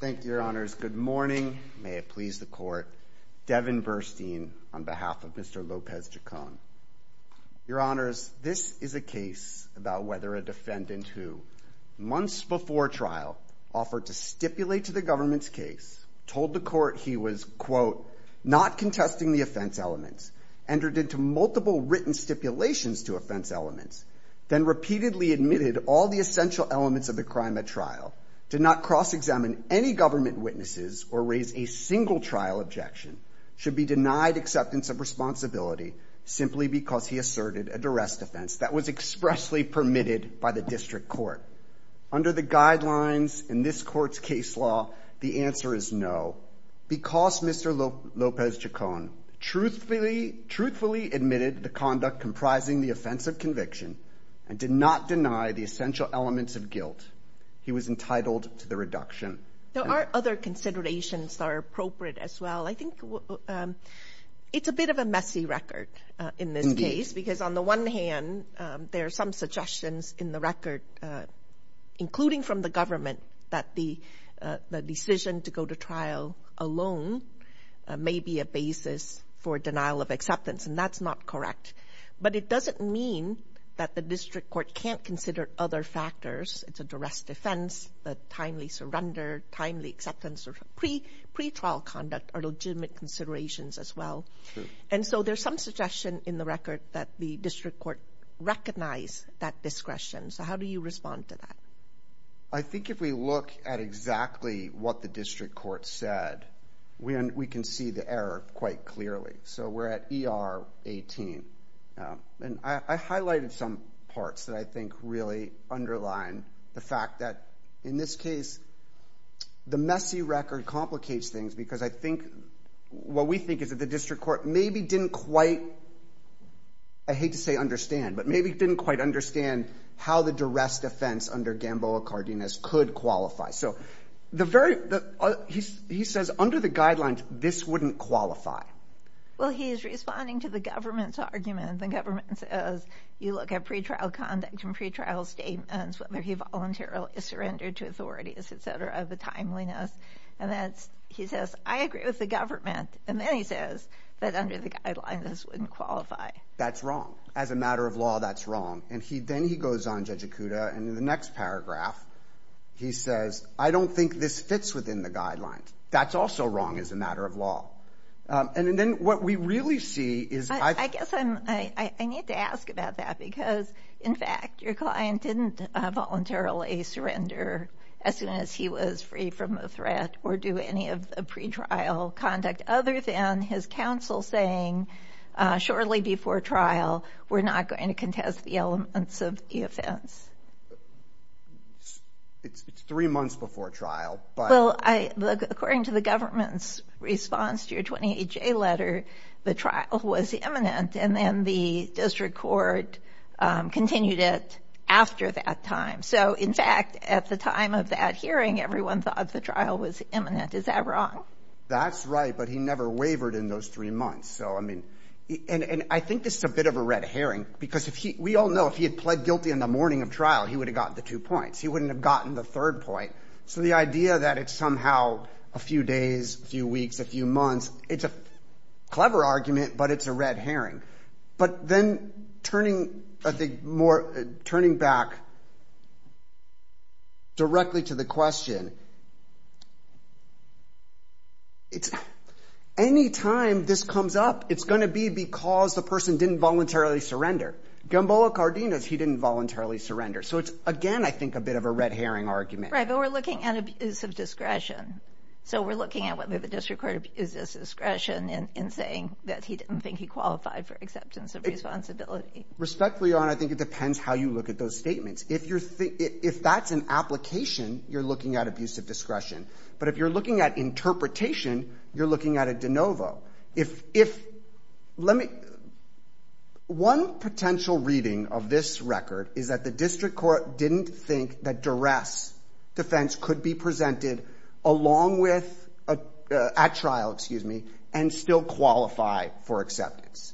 Thank you, your honors. Good morning. May it please the court. Devin Burstein, on behalf of Mr. Lopez Chacon. Your honors, this is a case about whether a defendant who, months before trial, offered to stipulate to the government's case, told the court he was, quote, not contesting the offense elements, entered into multiple written stipulations to offense elements, then repeatedly admitted all the essential elements of the crime at trial, did not cross-examine any government witnesses, or raise a single trial objection, should be denied acceptance of responsibility simply because he asserted a duress defense that was expressly permitted by the district court. Under the guidelines in this court's case law, the answer is no. Because Mr. Lopez Chacon truthfully admitted the conduct comprising the offense of conviction and did not deny the essential elements of guilt, he was entitled to the reduction. There are other considerations that are appropriate as well. I think it's a bit of a messy record in this case. Because on the one hand, there are some suggestions in the record, including from the government, that the decision to go to trial alone may be a basis for denial of acceptance, and that's not correct. But it doesn't mean that the district court can't consider other factors. It's a duress defense, the timely surrender, timely acceptance, or pretrial conduct are legitimate considerations as well. And so there's some suggestion in the record that the district court recognize that discretion. So how do you respond to that? I think if we look at exactly what the district court said, we can see the error quite clearly. So we're at ER 18. And I highlighted some parts that I think really underline the fact that in this case, the messy record complicates things because I think what we think is that the district court maybe didn't quite, I hate to say understand, but maybe didn't quite understand how the duress defense under Gamboa-Cardenas could qualify. So he says under the guidelines, this wouldn't qualify. Well, he's responding to the government's argument. The government says you look at pretrial conduct and pretrial statements, whether he voluntarily surrendered to authorities, et cetera, of the timeliness. And he says, I agree with the government. And then he says that under the guidelines, this wouldn't qualify. That's wrong. As a matter of law, that's wrong. And then he goes on, Judge Ikuda, and in the next paragraph, he says, I don't think this fits within the guidelines. That's also wrong as a matter of law. And then what we really see is – I guess I need to ask about that because, in fact, your client didn't voluntarily surrender as soon as he was free from a threat or do any of the pretrial conduct other than his counsel saying shortly before trial, we're not going to contest the elements of the offense. It's three months before trial. Well, according to the government's response to your 28-J letter, the trial was imminent, and then the district court continued it after that time. So, in fact, at the time of that hearing, everyone thought the trial was imminent. Is that wrong? That's right, but he never wavered in those three months. So, I mean, and I think this is a bit of a red herring because we all know if he had pled guilty in the morning of trial, he would have gotten the two points. He wouldn't have gotten the third point. So the idea that it's somehow a few days, a few weeks, a few months, it's a clever argument, but it's a red herring. But then turning back directly to the question, any time this comes up, it's going to be because the person didn't voluntarily surrender. Gamboa Cardenas, he didn't voluntarily surrender. So it's, again, I think a bit of a red herring argument. Right, but we're looking at abuse of discretion. So we're looking at whether the district court abuses discretion in saying that he didn't think that he qualified for acceptance of responsibility. Respectfully, Your Honor, I think it depends how you look at those statements. If that's an application, you're looking at abuse of discretion. But if you're looking at interpretation, you're looking at a de novo. One potential reading of this record is that the district court didn't think that duress defense along with at trial, excuse me, and still qualify for acceptance.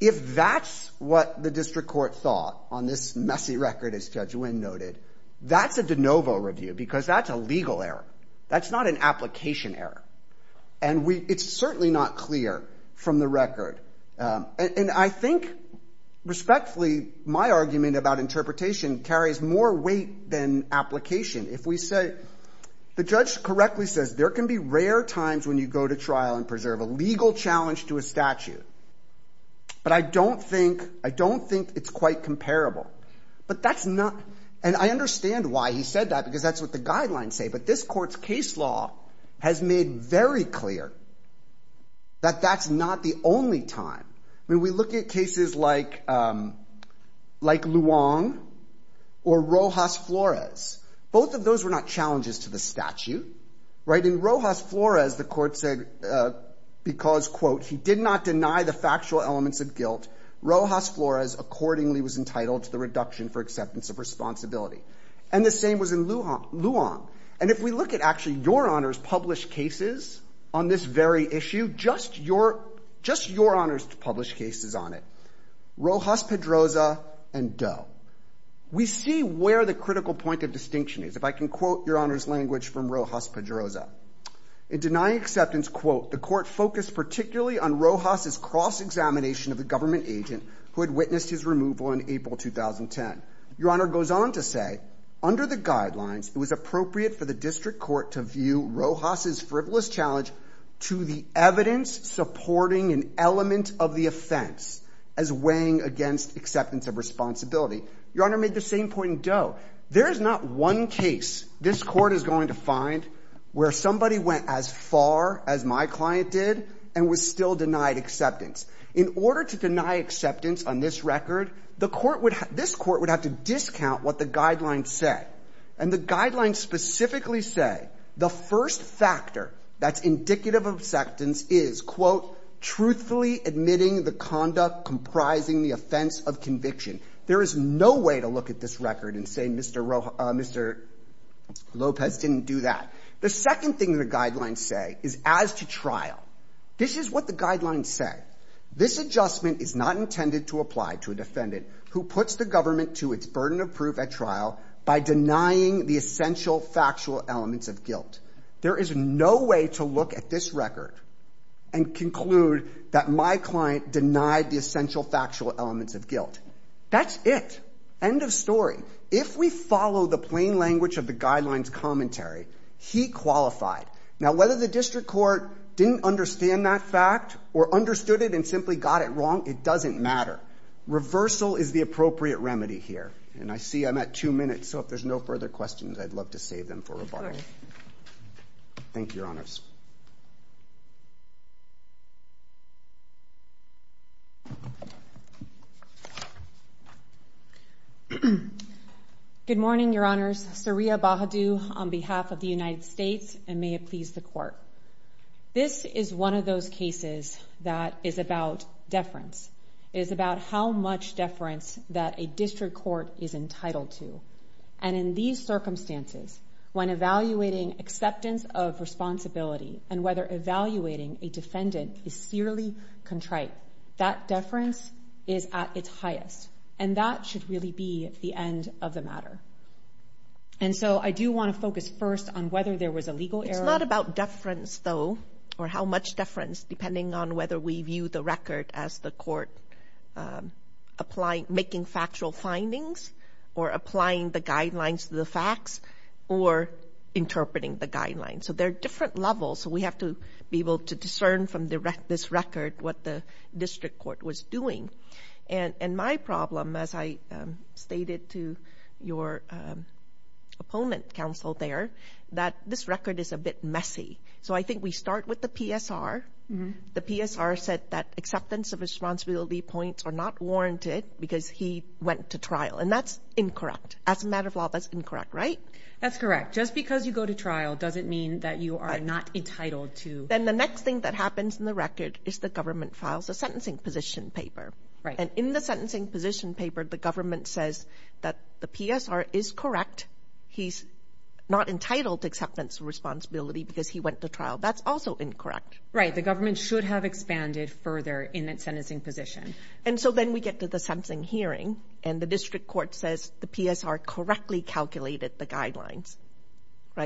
If that's what the district court thought on this messy record, as Judge Nguyen noted, that's a de novo review because that's a legal error. That's not an application error. And it's certainly not clear from the record. And I think, respectfully, my argument about interpretation carries more weight than application. If we say, the judge correctly says there can be rare times when you go to trial and preserve a legal challenge to a statute. But I don't think it's quite comparable. But that's not, and I understand why he said that because that's what the guidelines say. But this court's case law has made very clear that that's not the only time. I mean, we look at cases like Luong or Rojas Flores. Both of those were not challenges to the statute. In Rojas Flores, the court said, because, quote, he did not deny the factual elements of guilt, Rojas Flores accordingly was entitled to the reduction for acceptance of responsibility. And the same was in Luong. And if we look at actually Your Honor's published cases on this very issue, just Your Honor's published cases on it, Rojas-Pedroza and Doe, we see where the critical point of distinction is. If I can quote Your Honor's language from Rojas-Pedroza. In denying acceptance, quote, the court focused particularly on Rojas's cross-examination of the government agent who had witnessed his removal in April 2010. Your Honor goes on to say, under the guidelines, it was appropriate for the district court to view Rojas's frivolous challenge to the evidence supporting an element of the offense as weighing against acceptance of responsibility. Your Honor made the same point in Doe. There is not one case this court is going to find where somebody went as far as my client did and was still denied acceptance. In order to deny acceptance on this record, the court would have to discount what the guidelines say. And the guidelines specifically say the first factor that's indicative of acceptance is, quote, truthfully admitting the conduct comprising the offense of conviction. There is no way to look at this record and say Mr. Lopez didn't do that. The second thing the guidelines say is as to trial. This is what the guidelines say. This adjustment is not intended to apply to a defendant who puts the government to its burden of proof at trial by denying the essential factual elements of guilt. There is no way to look at this record and conclude that my client denied the essential factual elements of guilt. That's it. End of story. If we follow the plain language of the guidelines commentary, he qualified. Now whether the district court didn't understand that fact or understood it and simply got it wrong, it doesn't matter. Reversal is the appropriate remedy here. And I see I'm at two minutes, so if there's no further questions, I'd love to save them for rebuttal. Thank you, Your Honors. Good morning, Your Honors. My name is Saria Bahadu on behalf of the United States, and may it please the Court. This is one of those cases that is about deference, is about how much deference that a district court is entitled to. And in these circumstances, when evaluating acceptance of responsibility and whether evaluating a defendant is searly contrite, that deference is at its highest, and that should really be the end of the matter. And so I do want to focus first on whether there was a legal error. It's not about deference, though, or how much deference, depending on whether we view the record as the court making factual findings or applying the guidelines to the facts or interpreting the guidelines. So there are different levels, so we have to be able to discern from this record what the district court was doing. And my problem, as I stated to your opponent counsel there, that this record is a bit messy. So I think we start with the PSR. The PSR said that acceptance of responsibility points are not warranted because he went to trial, and that's incorrect. As a matter of law, that's incorrect, right? That's correct. Just because you go to trial doesn't mean that you are not entitled to. Then the next thing that happens in the record is the government files a sentencing position paper. And in the sentencing position paper, the government says that the PSR is correct. He's not entitled to acceptance of responsibility because he went to trial. That's also incorrect. Right. The government should have expanded further in that sentencing position. And so then we get to the sentencing hearing, and the district court says the PSR correctly calculated the guidelines.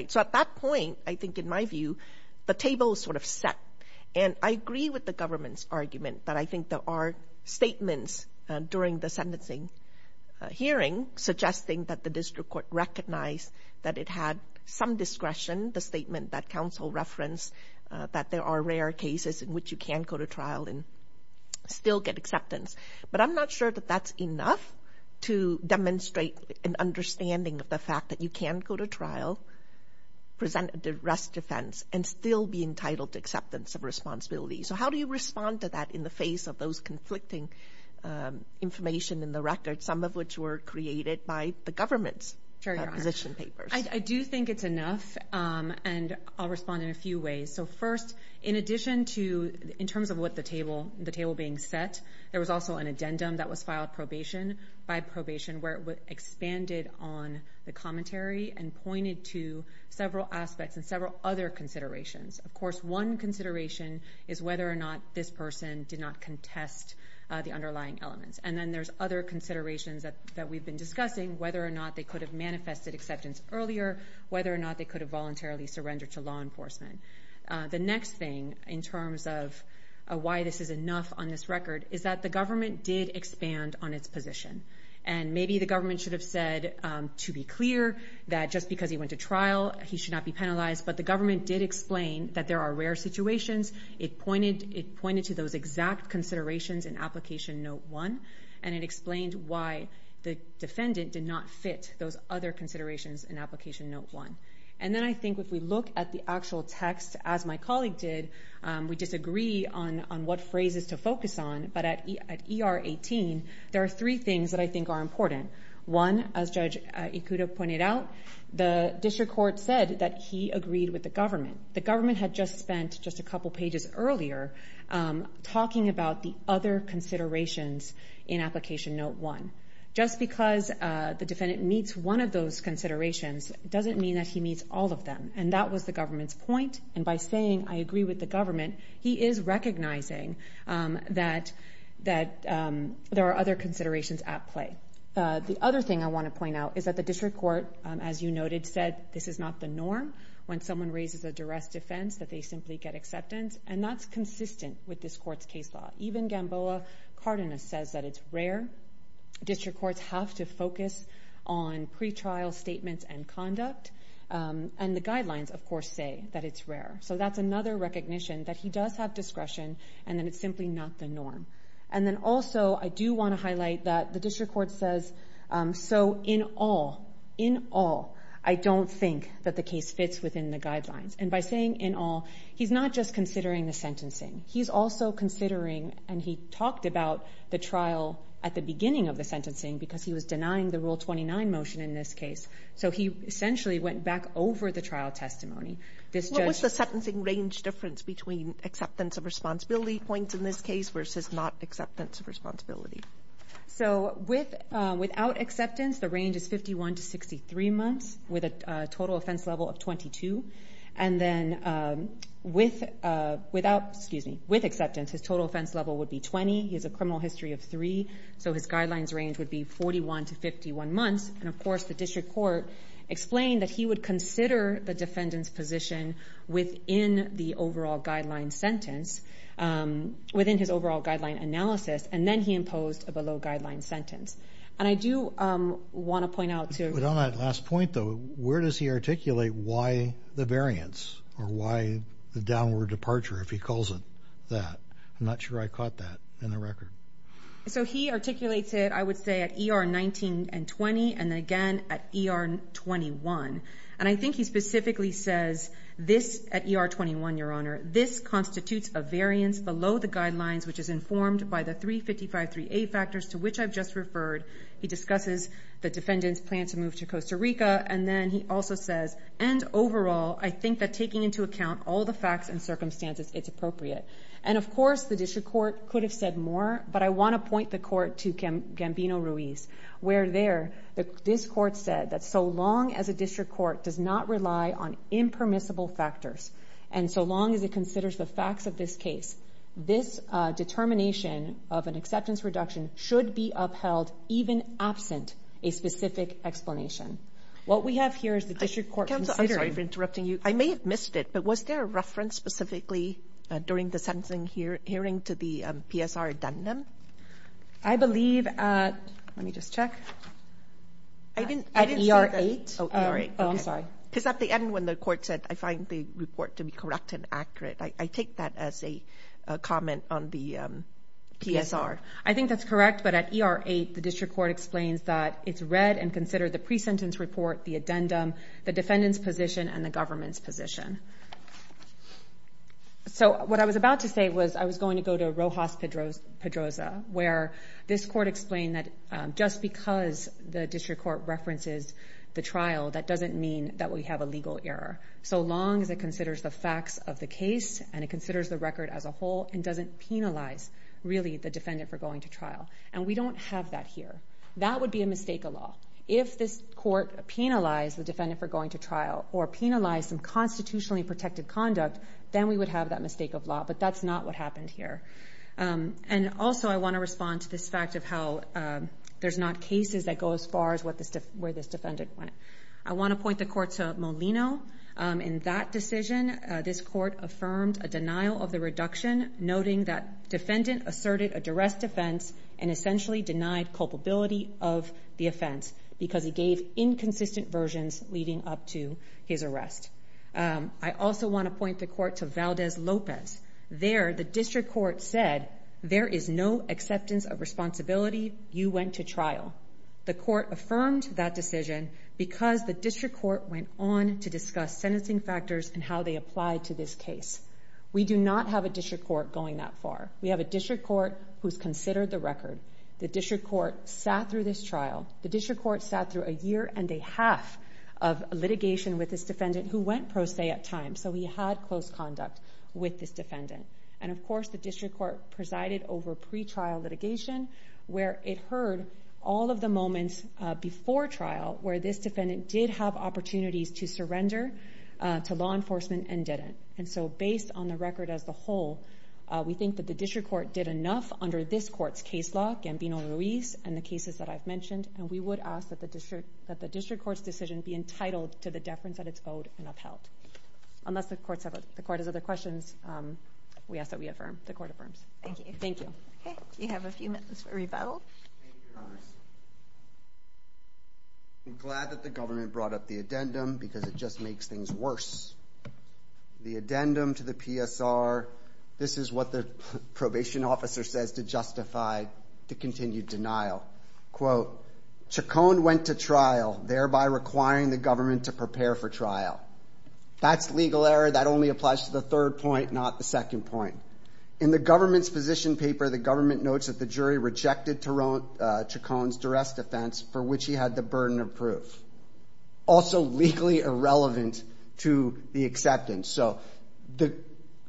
So at that point, I think, in my view, the table is sort of set. And I agree with the government's argument that I think there are statements during the sentencing hearing suggesting that the district court recognized that it had some discretion, the statement that counsel referenced that there are rare cases in which you can go to trial and still get acceptance. But I'm not sure that that's enough to demonstrate an understanding of the fact that you can go to trial, present an arrest defense, and still be entitled to acceptance of responsibility. So how do you respond to that in the face of those conflicting information in the record, some of which were created by the government's position papers? I do think it's enough, and I'll respond in a few ways. So first, in addition to in terms of what the table being set, there was also an addendum that was filed probation by probation where it expanded on the commentary and pointed to several aspects and several other considerations. Of course, one consideration is whether or not this person did not contest the underlying elements. And then there's other considerations that we've been discussing, whether or not they could have manifested acceptance earlier, whether or not they could have voluntarily surrendered to law enforcement. The next thing in terms of why this is enough on this record is that the government did expand on its position. And maybe the government should have said to be clear that just because he went to trial, he should not be penalized. But the government did explain that there are rare situations. It pointed to those exact considerations in Application Note 1, and it explained why the defendant did not fit those other considerations in Application Note 1. And then I think if we look at the actual text, as my colleague did, we disagree on what phrases to focus on. But at ER 18, there are three things that I think are important. One, as Judge Ikuda pointed out, the district court said that he agreed with the government. The government had just spent just a couple pages earlier talking about the other considerations in Application Note 1. Just because the defendant meets one of those considerations doesn't mean that he meets all of them. And that was the government's point. And by saying, I agree with the government, he is recognizing that there are other considerations at play. The other thing I want to point out is that the district court, as you noted, said this is not the norm when someone raises a duress defense, that they simply get acceptance. And that's consistent with this court's case law. Even Gamboa Cardenas says that it's rare. District courts have to focus on pretrial statements and conduct. And the guidelines, of course, say that it's rare. So that's another recognition that he does have discretion and that it's simply not the norm. And then also I do want to highlight that the district court says, so in all, in all, I don't think that the case fits within the guidelines. And by saying in all, he's not just considering the sentencing. He's also considering, and he talked about the trial at the beginning of the sentencing because he was denying the Rule 29 motion in this case. So he essentially went back over the trial testimony. What was the sentencing range difference between acceptance of responsibility points in this case versus not acceptance of responsibility? So without acceptance, the range is 51 to 63 months with a total offense level of 22. And then with acceptance, his total offense level would be 20. He has a criminal history of three. So his guidelines range would be 41 to 51 months. And, of course, the district court explained that he would consider the defendant's position within the overall guideline sentence, within his overall guideline analysis, and then he imposed a below-guideline sentence. And I do want to point out to you. But on that last point, though, where does he articulate why the variance or why the downward departure, if he calls it that? I'm not sure I caught that in the record. So he articulates it, I would say, at ER 19 and 20, and then again at ER 21. And I think he specifically says this at ER 21, Your Honor, this constitutes a variance below the guidelines which is informed by the 355.3a factors to which I've just referred. He discusses the defendant's plan to move to Costa Rica, and then he also says, and overall, I think that taking into account all the facts and circumstances, it's appropriate. And, of course, the district court could have said more, but I want to point the court to Gambino-Ruiz, where there this court said that so long as a district court does not rely on impermissible factors and so long as it considers the facts of this case, this determination of an acceptance reduction should be upheld even absent a specific explanation. What we have here is the district court considering. Counsel, I'm sorry for interrupting you. I may have missed it, but was there a reference specifically during the sentencing hearing to the PSR addendum? I believe at ER 8. Oh, ER 8. Oh, I'm sorry. Because at the end when the court said, I find the report to be correct and accurate, I take that as a comment on the PSR. I think that's correct, but at ER 8, the district court explains that it's read and considered the pre-sentence report, the addendum, the defendant's position, and the government's position. So what I was about to say was I was going to go to Rojas-Pedroza, where this court explained that just because the district court references the trial, that doesn't mean that we have a legal error so long as it considers the facts of the case and it considers the record as a whole and doesn't penalize, really, the defendant for going to trial. And we don't have that here. That would be a mistake of law. If this court penalized the defendant for going to trial or penalized some constitutionally protected conduct, then we would have that mistake of law. But that's not what happened here. And also I want to respond to this fact of how there's not cases that go as far as where this defendant went. I want to point the court to Molino. In that decision, this court affirmed a denial of the reduction, noting that defendant asserted a duress defense and essentially denied culpability of the offense because he gave inconsistent versions leading up to his arrest. I also want to point the court to Valdez-Lopez. There, the district court said there is no acceptance of responsibility. You went to trial. The court affirmed that decision because the district court went on to discuss sentencing factors and how they apply to this case. We do not have a district court going that far. We have a district court who's considered the record. The district court sat through this trial. The district court sat through a year and a half of litigation with this defendant who went pro se at times. So he had close conduct with this defendant. And, of course, the district court presided over pretrial litigation where it heard all of the moments before trial where this defendant did have opportunities to surrender to law enforcement and didn't. And so based on the record as a whole, we think that the district court did enough under this court's case law, Gambino-Ruiz, and the cases that I've mentioned, and we would ask that the district court's decision be entitled to the deference that it's owed and upheld. Unless the court has other questions, we ask that we affirm. The court affirms. Thank you. You have a few minutes for rebuttal. I'm glad that the government brought up the addendum because it just makes things worse. The addendum to the PSR. This is what the probation officer says to justify the continued denial. Quote, Chacon went to trial, thereby requiring the government to prepare for trial. That's legal error. That only applies to the third point, not the second point. In the government's position paper, the government notes that the jury rejected Chacon's duress defense for which he had the burden of proof. Also legally irrelevant to the acceptance. So the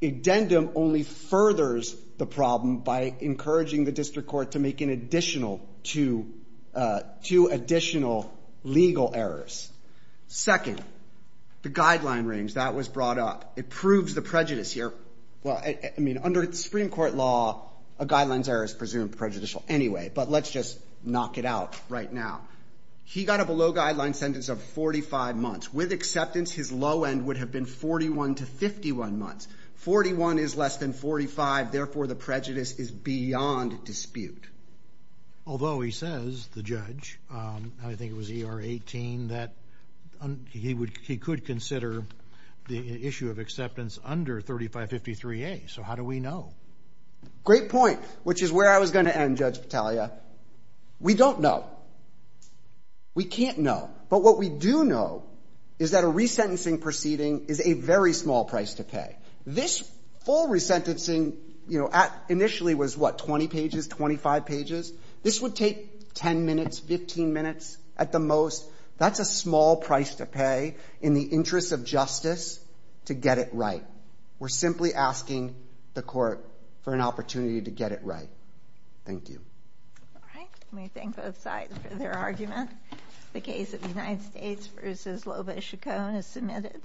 addendum only furthers the problem by encouraging the district court to make two additional legal errors. Second, the guideline range. That was brought up. It proves the prejudice here. Well, I mean, under the Supreme Court law, a guideline's error is presumed prejudicial anyway, but let's just knock it out right now. He got a below guideline sentence of 45 months. With acceptance, his low end would have been 41 to 51 months. Forty-one is less than 45. Therefore, the prejudice is beyond dispute. Although he says, the judge, I think it was ER 18, that he could consider the issue of acceptance under 3553A. So how do we know? Great point, which is where I was going to end, Judge Battaglia. We don't know. We can't know. But what we do know is that a resentencing proceeding is a very small price to pay. This full resentencing, you know, initially was, what, 20 pages, 25 pages? This would take 10 minutes, 15 minutes at the most. That's a small price to pay in the interest of justice to get it right. We're simply asking the court for an opportunity to get it right. Thank you. All right. Let me thank both sides for their argument. The case of the United States v. Lobos-Chacon is submitted.